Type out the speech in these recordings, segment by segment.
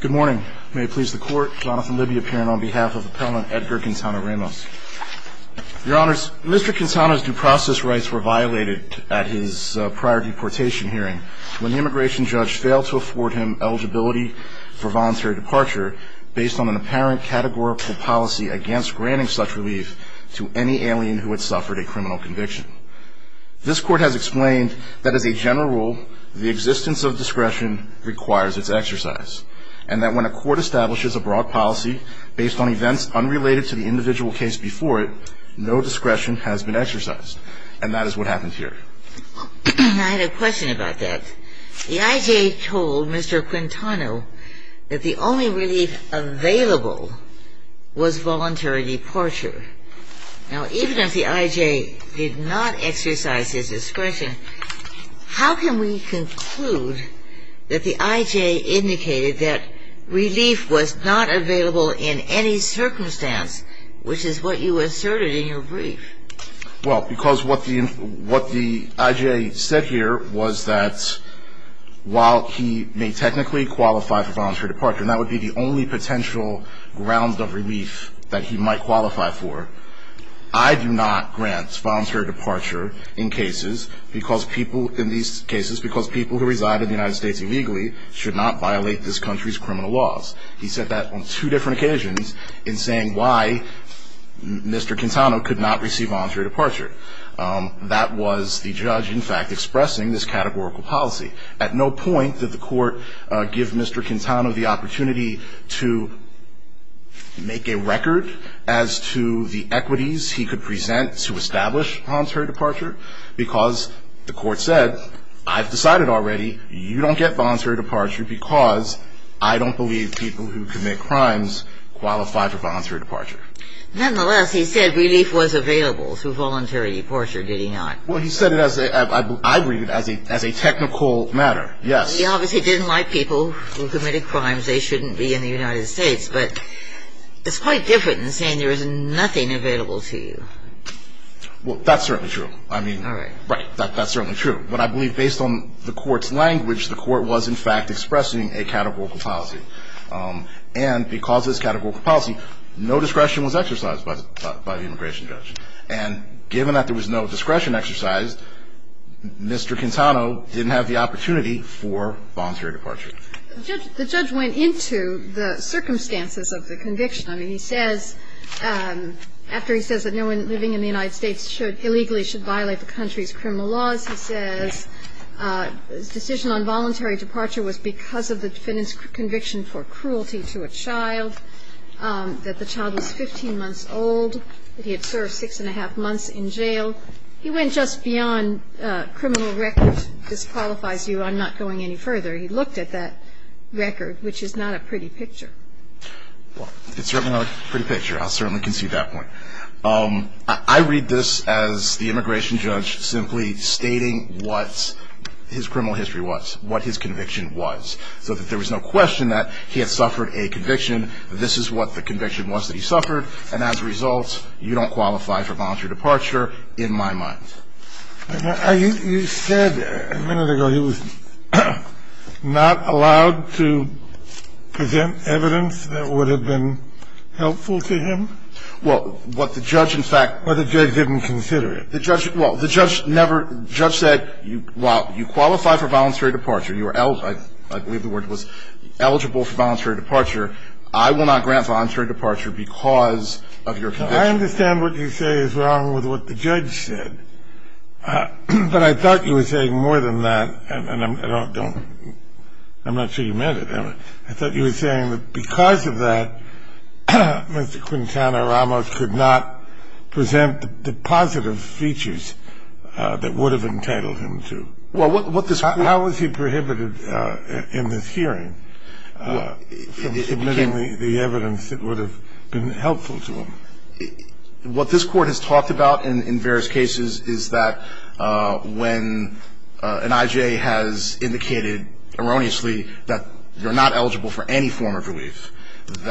Good morning. May it please the court, Jonathan Libby appearing on behalf of appellant Edgar Quintana-Ramos. Your honors, Mr. Quintana's due process rights were violated at his prior deportation hearing when the immigration judge failed to afford him eligibility for voluntary departure based on an apparent categorical policy against granting such relief to any alien who had suffered a criminal conviction. This court has explained that as a general rule the existence of discretion requires its exercise and that when a court establishes a broad policy based on events unrelated to the individual case before it, no discretion has been exercised. And that is what happened here. I had a question about that. The I.J. told Mr. Quintana that the only relief available was voluntary departure. Now even if the I.J. did not exercise his discretion to grant voluntary departure, would that include that the I.J. indicated that relief was not available in any circumstance, which is what you asserted in your brief? Well, because what the I.J. said here was that while he may technically qualify for voluntary departure, and that would be the only potential grounds of relief that he might qualify for, I do not grant voluntary departure in cases because people who reside in the United States illegally should not violate this country's criminal laws. He said that on two different occasions in saying why Mr. Quintana could not receive voluntary departure. That was the judge, in fact, expressing this categorical policy. At no point did the court give Mr. Quintana the opportunity to make a record as to the equities he could present to establish voluntary departure, because the court said, I've decided already you don't get voluntary departure because I don't believe people who commit crimes qualify for voluntary departure. Nonetheless, he said relief was available through voluntary departure, did he not? Well, he said it as a, I believe, as a technical matter, yes. He obviously didn't like people who committed crimes they shouldn't be in the United States, but it's quite different than saying there is nothing available to you. Well, that's certainly true. I mean, right, that's certainly true. But I believe based on the court's language, the court was in fact expressing a categorical policy. And because of this categorical policy, no discretion was exercised by the immigration judge. And given that there was no discretion exercised, Mr. Quintana didn't have the opportunity for voluntary departure. The judge went into the court and said he said, after he says that no one living in the United States should, illegally should violate the country's criminal laws. He says, decision on voluntary departure was because of the defendant's conviction for cruelty to a child, that the child was 15 months old, that he had served six and a half months in jail. He went just beyond criminal record. This qualifies you on not going any further. He looked at that record, which is not a picture. I'll certainly concede that point. I read this as the immigration judge simply stating what his criminal history was, what his conviction was, so that there was no question that he had suffered a conviction. This is what the conviction was that he suffered. And as a result, you don't qualify for voluntary departure, in my mind. You said a minute ago he was not allowed to present evidence that would have been helpful to him? Well, what the judge, in fact Well, the judge didn't consider it. Well, the judge never, the judge said, well, you qualify for voluntary departure. I believe the word was eligible for voluntary departure. I will not grant voluntary departure because of your conviction. I understand what you say is wrong with what the judge said. But I thought you were saying more than that, and I'm not sure you meant it. I thought you were saying that because of that, Mr. Quintana Ramos could not present the positive features that would have entitled him to. Well, what this court How was he prohibited in this hearing from submitting the evidence that would have been helpful to him? What this court has talked about in various cases is that when an I.J. has a certain type of belief,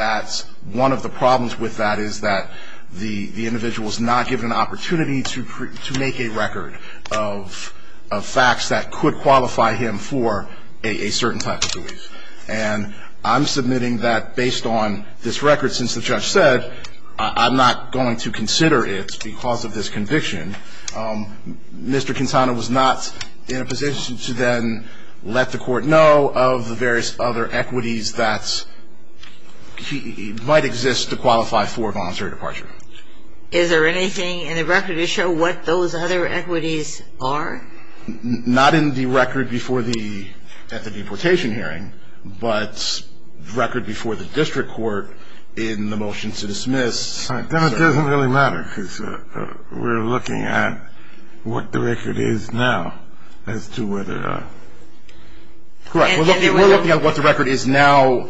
that one of the problems with that is that the individual is not given an opportunity to make a record of facts that could qualify him for a certain type of belief. And I'm submitting that based on this record, since the judge said I'm not going to consider it because of this conviction, Mr. Quintana was not in a position to then let the court know of the various other equities that might exist to qualify for voluntary departure. Is there anything in the record to show what those other equities are? Not in the record at the deportation hearing, but the record before the district court in the motion to dismiss. Then it doesn't really matter because we're looking at what the record is now as to whether Correct. We're looking at what the record is now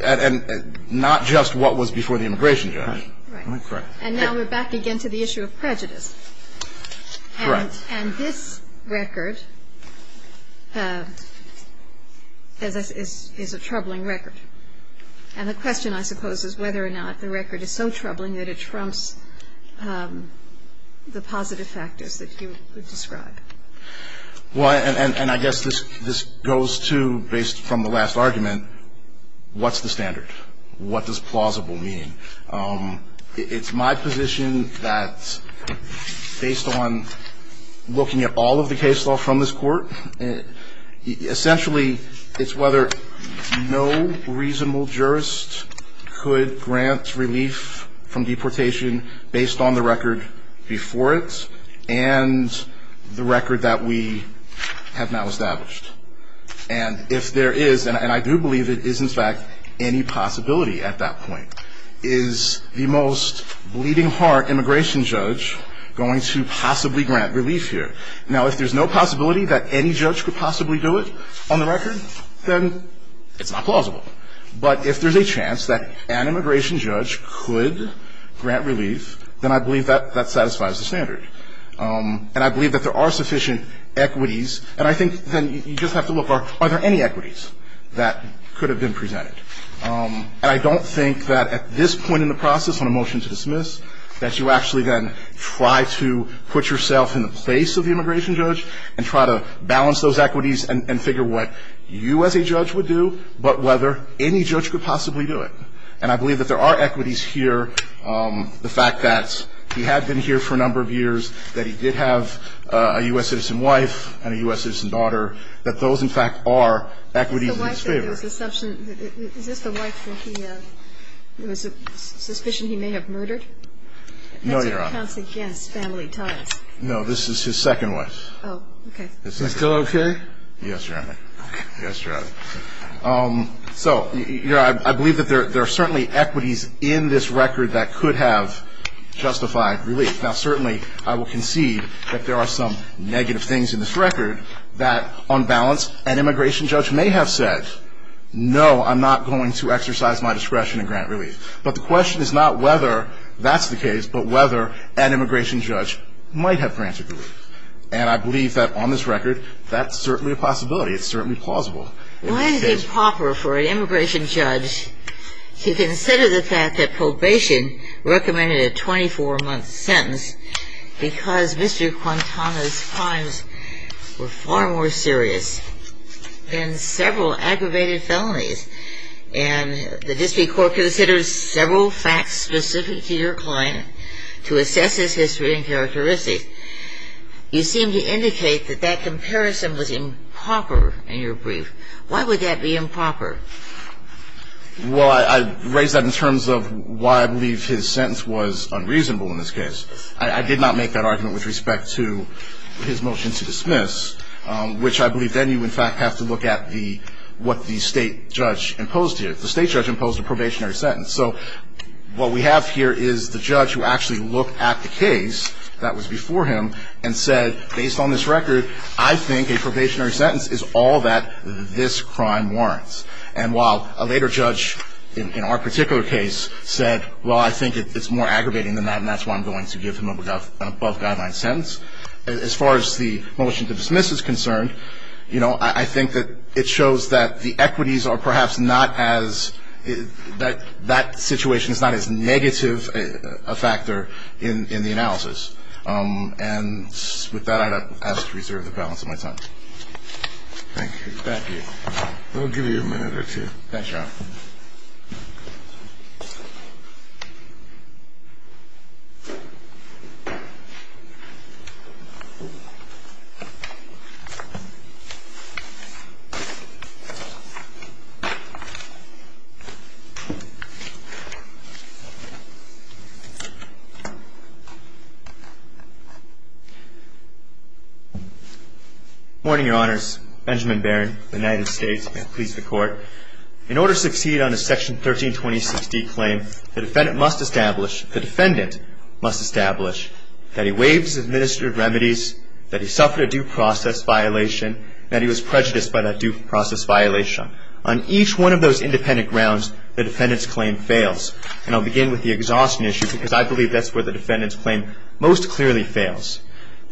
and not just what was before the immigration judge. Right. And now we're back again to the issue of prejudice. Right. And this record is a troubling record. And the question, I suppose, is whether or not the record is so troubling that it trumps the positive factors that you describe. Well, and I guess this goes to, based from the last argument, what's the standard? What does plausible mean? It's my position that, based on looking at all of the case law from this court, essentially it's whether no reasonable jurist could grant relief from deportation based on the record before it and the record that we have now established. And if there is, and I do believe it is in fact any possibility at that point, is the most bleeding heart immigration judge going to possibly grant relief here? Now, if there's no possibility that any judge could possibly do it on the record, then it's not plausible. But if there's a chance that an immigration judge could grant relief, then I believe that there are sufficient equities. And I think then you just have to look, are there any equities that could have been presented? And I don't think that at this point in the process, on a motion to dismiss, that you actually then try to put yourself in the place of the immigration judge and try to balance those equities and figure what you as a judge would do, but whether any judge could possibly do it. And I believe that there are equities here. The fact that he had been here for a number of years, that he did have a U.S. citizen wife and a U.S. citizen daughter, that those, in fact, are equities in his favor. Is this the wife that he had? Is it a suspicion he may have murdered? No, Your Honor. That counts against family ties. No, this is his second wife. Oh, okay. Is that still okay? Yes, Your Honor. Okay. Yes, Your Honor. So, I believe that there are certainly equities in this record that could have justified relief. Now, certainly, I will concede that there are some negative things in this record that, on balance, an immigration judge may have said, no, I'm not going to exercise my discretion to grant relief. But the question is not whether that's the case, but whether an immigration judge might have granted relief. And I believe that, on this record, that's certainly a possibility. It's certainly plausible. Why is it improper for an immigration judge to consider the fact that you recommended a 24-month sentence because Mr. Quintana's crimes were far more serious than several aggravated felonies, and the district court considers several facts specific to your client to assess his history and characteristics, you seem to indicate that that comparison was improper in your brief. Why would that be improper? Well, I raise that in terms of why I believe his sentence was unreasonable in this case. I did not make that argument with respect to his motion to dismiss, which I believe then you, in fact, have to look at what the state judge imposed here. The state judge imposed a probationary sentence. So, what we have here is the judge who actually looked at the case that was before him and said, based on this record, I think a probationary sentence is all that this crime warrants. And while a later judge in our particular case said, well, I think it's more aggravating than that, and that's why I'm going to give him an above-guideline sentence, as far as the motion to dismiss is concerned, you know, I think that it shows that the equities are perhaps not as — that that situation is not as negative a factor in the analysis. And with that, I'd ask to reserve the balance of my time. Thank you. Thank you. We'll give you a minute or two. Thanks, John. Good morning, Your Honors. Benjamin Barron, United States, and I please the Court. In order to succeed on a Section 1326D claim, the defendant must establish — the defendant must establish that he waived his administrative remedies, that he suffered a due process violation, and that he was prejudiced by that due process violation. On each one of those independent grounds, the defendant's claim fails. And I'll begin with the exhaustion issue, because I believe that's where the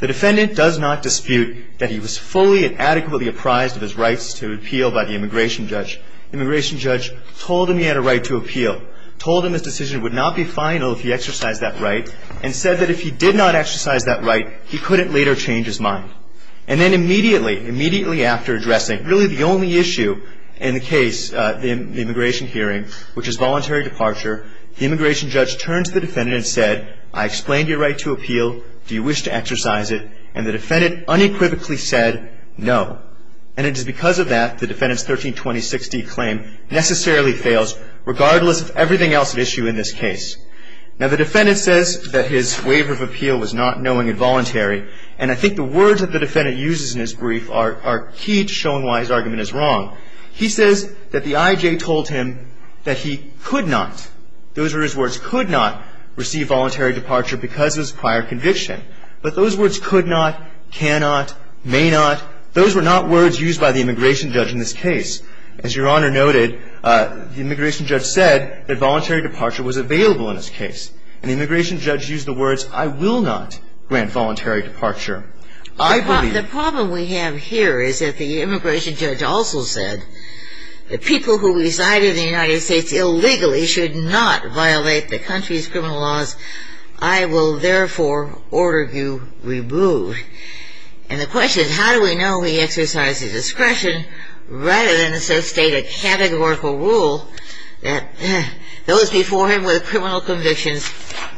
The defendant does not dispute that he was fully and adequately apprised of his rights to appeal by the immigration judge. The immigration judge told him he had a right to appeal, told him his decision would not be final if he exercised that right, and said that if he did not exercise that right, he couldn't later change his mind. And then immediately, immediately after addressing really the only issue in the defendant and said, I explained your right to appeal. Do you wish to exercise it? And the defendant unequivocally said, no. And it is because of that the defendant's 1326D claim necessarily fails, regardless of everything else at issue in this case. Now, the defendant says that his waiver of appeal was not knowing and voluntary, and I think the words that the defendant uses in his brief are key to showing why his argument is wrong. He says that the IJ told him that he could not — those are his words, could not receive voluntary departure because of his prior conviction. But those words could not, cannot, may not, those were not words used by the immigration judge in this case. As Your Honor noted, the immigration judge said that voluntary departure was available in this case. And the immigration judge used the words, I will not grant voluntary departure. I believe — The problem we have here is that the immigration judge also said the people who reside illegally should not violate the country's criminal laws. I will, therefore, order you removed. And the question is how do we know he exercised his discretion rather than associate a categorical rule that those before him with criminal convictions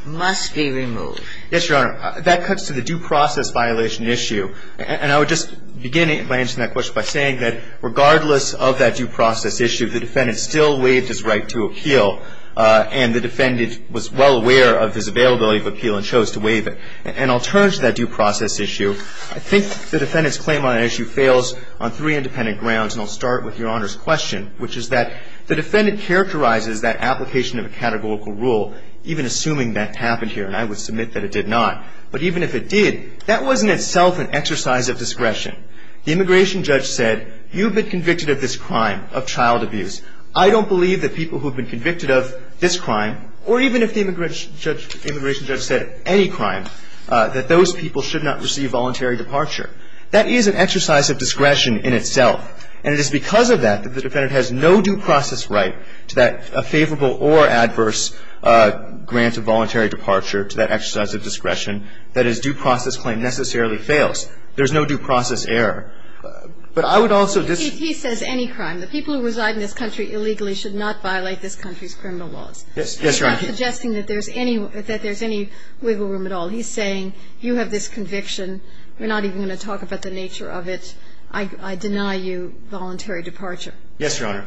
must be removed? Yes, Your Honor. That cuts to the due process violation issue. And I would just begin my answer to that question by saying that regardless of that due process issue, the defendant still waived his right to appeal. And the defendant was well aware of his availability of appeal and chose to waive it. And I'll turn to that due process issue. I think the defendant's claim on that issue fails on three independent grounds. And I'll start with Your Honor's question, which is that the defendant characterizes that application of a categorical rule, even assuming that happened here. And I would submit that it did not. But even if it did, that wasn't itself an exercise of discretion. The immigration judge said you've been convicted of this crime of child abuse. I don't believe that people who have been convicted of this crime, or even if the immigration judge said any crime, that those people should not receive voluntary departure. That is an exercise of discretion in itself. And it is because of that that the defendant has no due process right to that favorable or adverse grant of voluntary departure to that exercise of discretion. That is, due process claim necessarily fails. There's no due process error. But I would also disagree. He says any crime. The people who reside in this country illegally should not violate this country's criminal laws. Yes, Your Honor. He's not suggesting that there's any wiggle room at all. He's saying you have this conviction. We're not even going to talk about the nature of it. I deny you voluntary departure. Yes, Your Honor.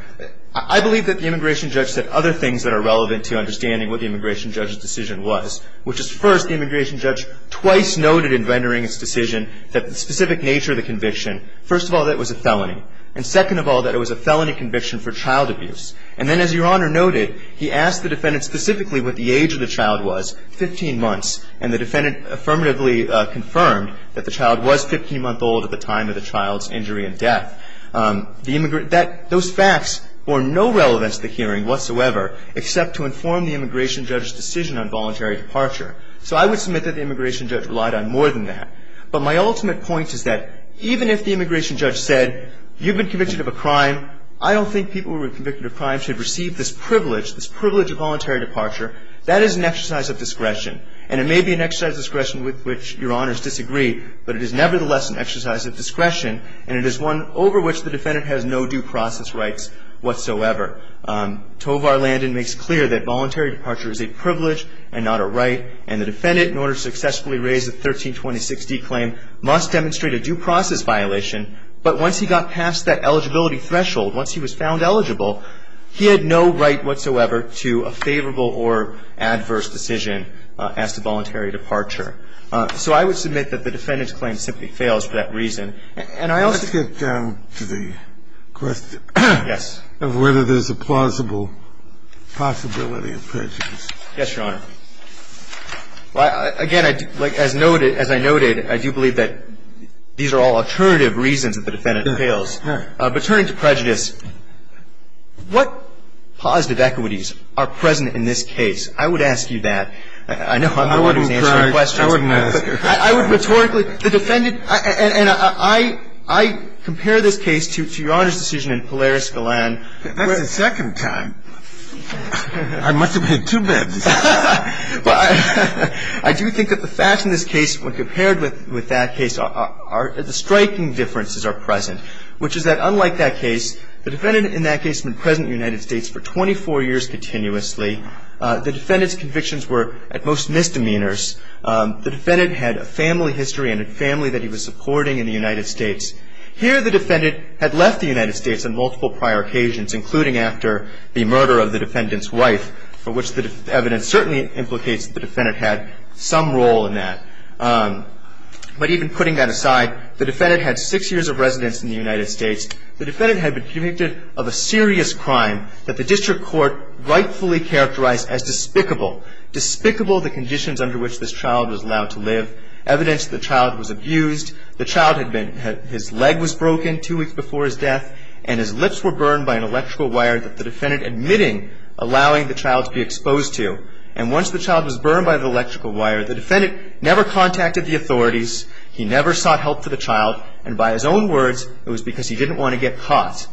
I believe that the immigration judge said other things that are relevant to understanding what the immigration judge's decision was, which is, first, the immigration judge twice noted in rendering his decision that the specific nature of the conviction, first of all, that it was a felony, and second of all, that it was a felony conviction for child abuse. And then, as Your Honor noted, he asked the defendant specifically what the age of the child was, 15 months, and the defendant affirmatively confirmed that the child was 15 months old at the time of the child's injury and death. The immigrant – that – those facts bore no relevance to the hearing whatsoever except to inform the immigration judge's decision on voluntary departure. So I would submit that the immigration judge relied on more than that. But my ultimate point is that even if the immigration judge said you've been convicted of a crime, I don't think people who were convicted of crimes should receive this privilege, this privilege of voluntary departure. That is an exercise of discretion. And it may be an exercise of discretion with which Your Honors disagree, but it is nevertheless an exercise of discretion, and it is one over which the defendant has no due process rights whatsoever. Tovar Landon makes clear that voluntary departure is a privilege and not a right, and the defendant, in order to successfully raise the 1326d claim, must demonstrate a due process violation. But once he got past that eligibility threshold, once he was found eligible, he had no right whatsoever to a favorable or adverse decision as to voluntary departure. So I would submit that the defendant's claim simply fails for that reason. And I also think the question of whether there's a plausible possibility of prejudice. Yes, Your Honor. Again, as noted, as I noted, I do believe that these are all alternative reasons that the defendant fails. But turning to prejudice, what positive equities are present in this case? I would ask you that. I know I'm the one who's answering questions. I wouldn't ask her. I would rhetorically. The defendant, and I compare this case to Your Honor's decision in Polaris-Golan. That's the second time. I must have had two beds. I do think that the facts in this case, when compared with that case, the striking differences are present, which is that unlike that case, the defendant in that case had been present in the United States for 24 years continuously. The defendant's convictions were at most misdemeanors. The defendant had a family history and a family that he was supporting in the United States. Here the defendant had left the United States on multiple prior occasions, including after the murder of the defendant's wife, for which the evidence certainly implicates that the defendant had some role in that. But even putting that aside, the defendant had six years of residence in the United States. The defendant had been convicted of a serious crime that the district court rightfully characterized as despicable, despicable the conditions under which this child was allowed to live, evidence that the child was abused. The child had been, his leg was broken two weeks before his death, and his lips were burned by an electrical wire that the defendant admitting allowing the child to be exposed to. And once the child was burned by the electrical wire, the defendant never contacted the authorities. He never sought help for the child. And by his own words, it was because he didn't want to get caught.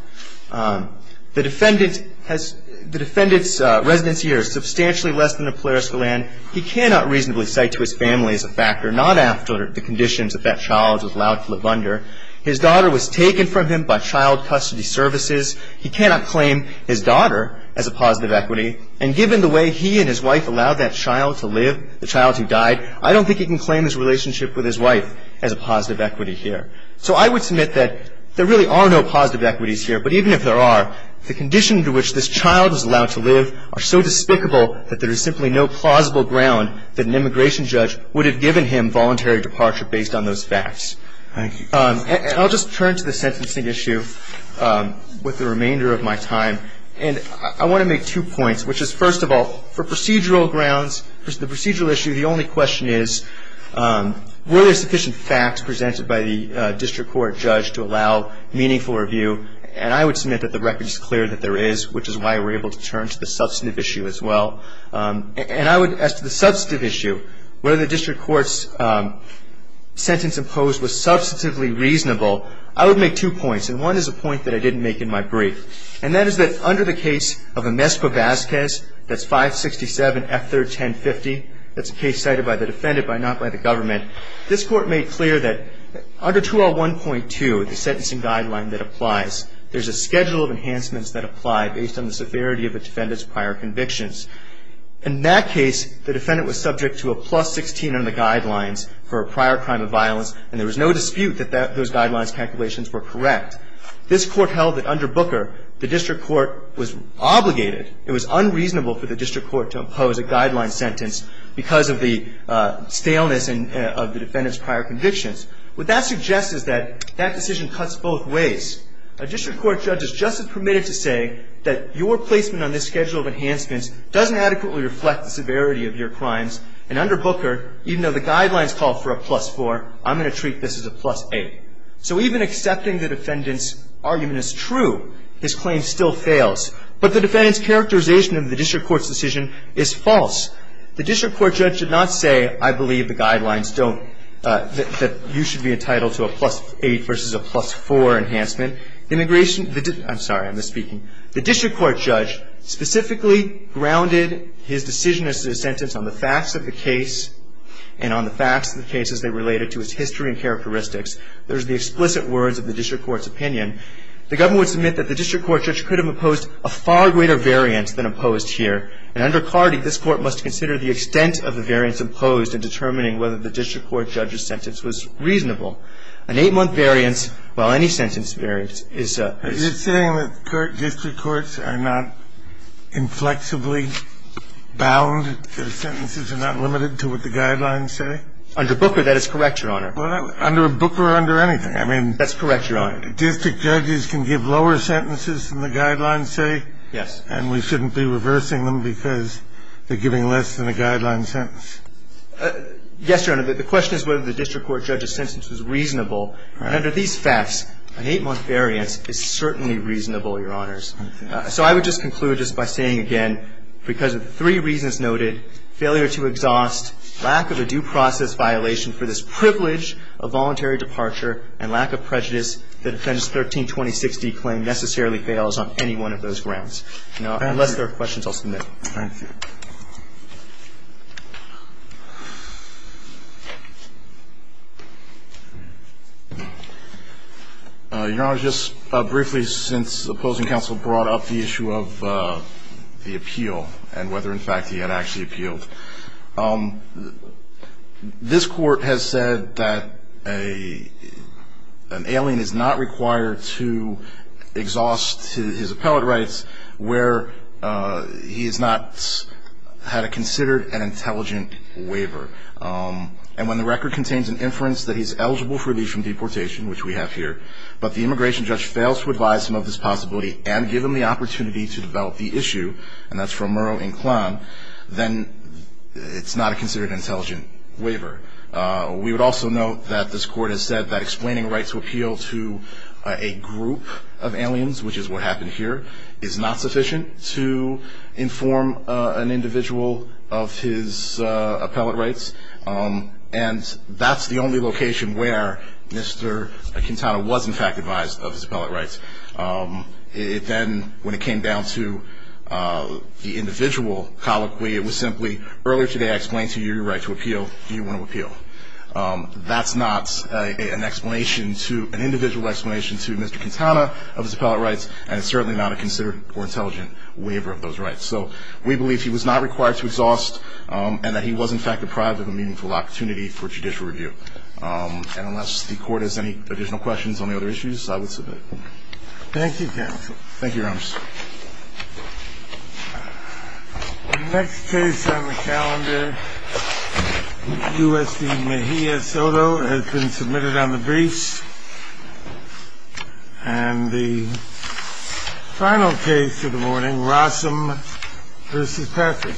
The defendant has, the defendant's residence years substantially less than the Polaris Galan. He cannot reasonably cite to his family as a factor, not after the conditions that that child was allowed to live under. His daughter was taken from him by child custody services. He cannot claim his daughter as a positive equity. And given the way he and his wife allowed that child to live, the child who died, I don't think he can claim his relationship with his wife as a positive equity here. So I would submit that there really are no positive equities here. But even if there are, the conditions under which this child was allowed to live are so despicable that there is simply no plausible ground that an immigration judge would have given him voluntary departure based on those facts. And I'll just turn to the sentencing issue with the remainder of my time. And I want to make two points, which is, first of all, for procedural grounds, the procedural issue, the only question is, were there sufficient facts presented by the district court judge to allow meaningful review? And I would submit that the record is clear that there is, which is why we're able to turn to the substantive issue as well. And I would, as to the substantive issue, whether the district court's sentence imposed was substantively reasonable, I would make two points. And one is a point that I didn't make in my brief. And that is that under the case of Amespa-Vazquez, that's 567F3-1050, that's a case cited by the defendant but not by the government, this Court made clear that under 2L1.2, the sentencing guideline that applies, there's a schedule of enhancements that apply based on the severity of a defendant's prior convictions. In that case, the defendant was subject to a plus 16 on the guidelines for a prior crime of violence, and there was no dispute that those guidelines calculations were correct. This Court held that under Booker, the district court was obligated, it was unreasonable for the district court to impose a guideline sentence because of the staleness of the defendant's prior convictions. What that suggests is that that decision cuts both ways. A district court judge is just as permitted to say that your placement on this schedule of enhancements doesn't adequately reflect the severity of your crimes. And under Booker, even though the guidelines call for a plus 4, I'm going to treat this as a plus 8. So even accepting the defendant's argument as true, his claim still fails. But the defendant's characterization of the district court's decision is false. The district court judge did not say, I believe the guidelines don't, that you should be entitled to a plus 8 versus a plus 4 enhancement. Immigration, I'm sorry, I'm misspeaking. The district court judge specifically grounded his decision as to the sentence on the facts of the case and on the facts of the case as they related to its history and characteristics. Those are the explicit words of the district court's opinion. The government would submit that the district court judge could have imposed a far greater variance than imposed here. And under Cardee, this Court must consider the extent of the variance imposed in determining whether the district court judge's sentence was reasonable. An eight-month variance, well, any sentence variance is a – Under Booker, that is correct, Your Honor. Well, under Booker or under anything. I mean – That's correct, Your Honor. District judges can give lower sentences than the guidelines say. Yes. And we shouldn't be reversing them because they're giving less than a guideline sentence. Yes, Your Honor. The question is whether the district court judge's sentence was reasonable. And under these facts, an eight-month variance is certainly reasonable, Your Honor. I want to conclude my points by the fact that the district court judges are their In my case, I've had no problems with my own counterparts. So I would just conclude just by saying again, because of the 3 reasons noted, failure to exhaust, lack of a due process violation for this privilege of voluntary departure, and lack of prejudice, the Defense 13-2060 claim necessarily fails on any one of those grounds. Thank you. If there are questions, I'll submit. Thank you. Your Honor, just briefly, since opposing counsel brought up the issue of the appeal and whether, in fact, he had actually appealed. This Court has said that an alien is not required to exhaust his appellate rights where he has not had a considered and intelligent waiver. And when the record contains an inference that he's eligible for relief from deportation, which we have here, but the immigration judge fails to advise him of this possibility and give him the opportunity to develop the issue, and that's from Murrow and Klan, then it's not a considered intelligent waiver. We would also note that this Court has said that explaining a right to appeal to a defendant is not sufficient to inform an individual of his appellate rights. And that's the only location where Mr. Quintana was, in fact, advised of his appellate rights. It then, when it came down to the individual colloquy, it was simply, earlier today I explained to you your right to appeal. Do you want to appeal? That's not an explanation to, an individual explanation to Mr. Quintana of his waiver of those rights. So we believe he was not required to exhaust, and that he was, in fact, deprived of a meaningful opportunity for judicial review. And unless the Court has any additional questions on the other issues, I would submit. Thank you, counsel. Thank you, Your Honor. The next case on the calendar, U.S.D. Mejia Soto, has been submitted on the briefs. And the final case of the morning, Rossum v. Patrick.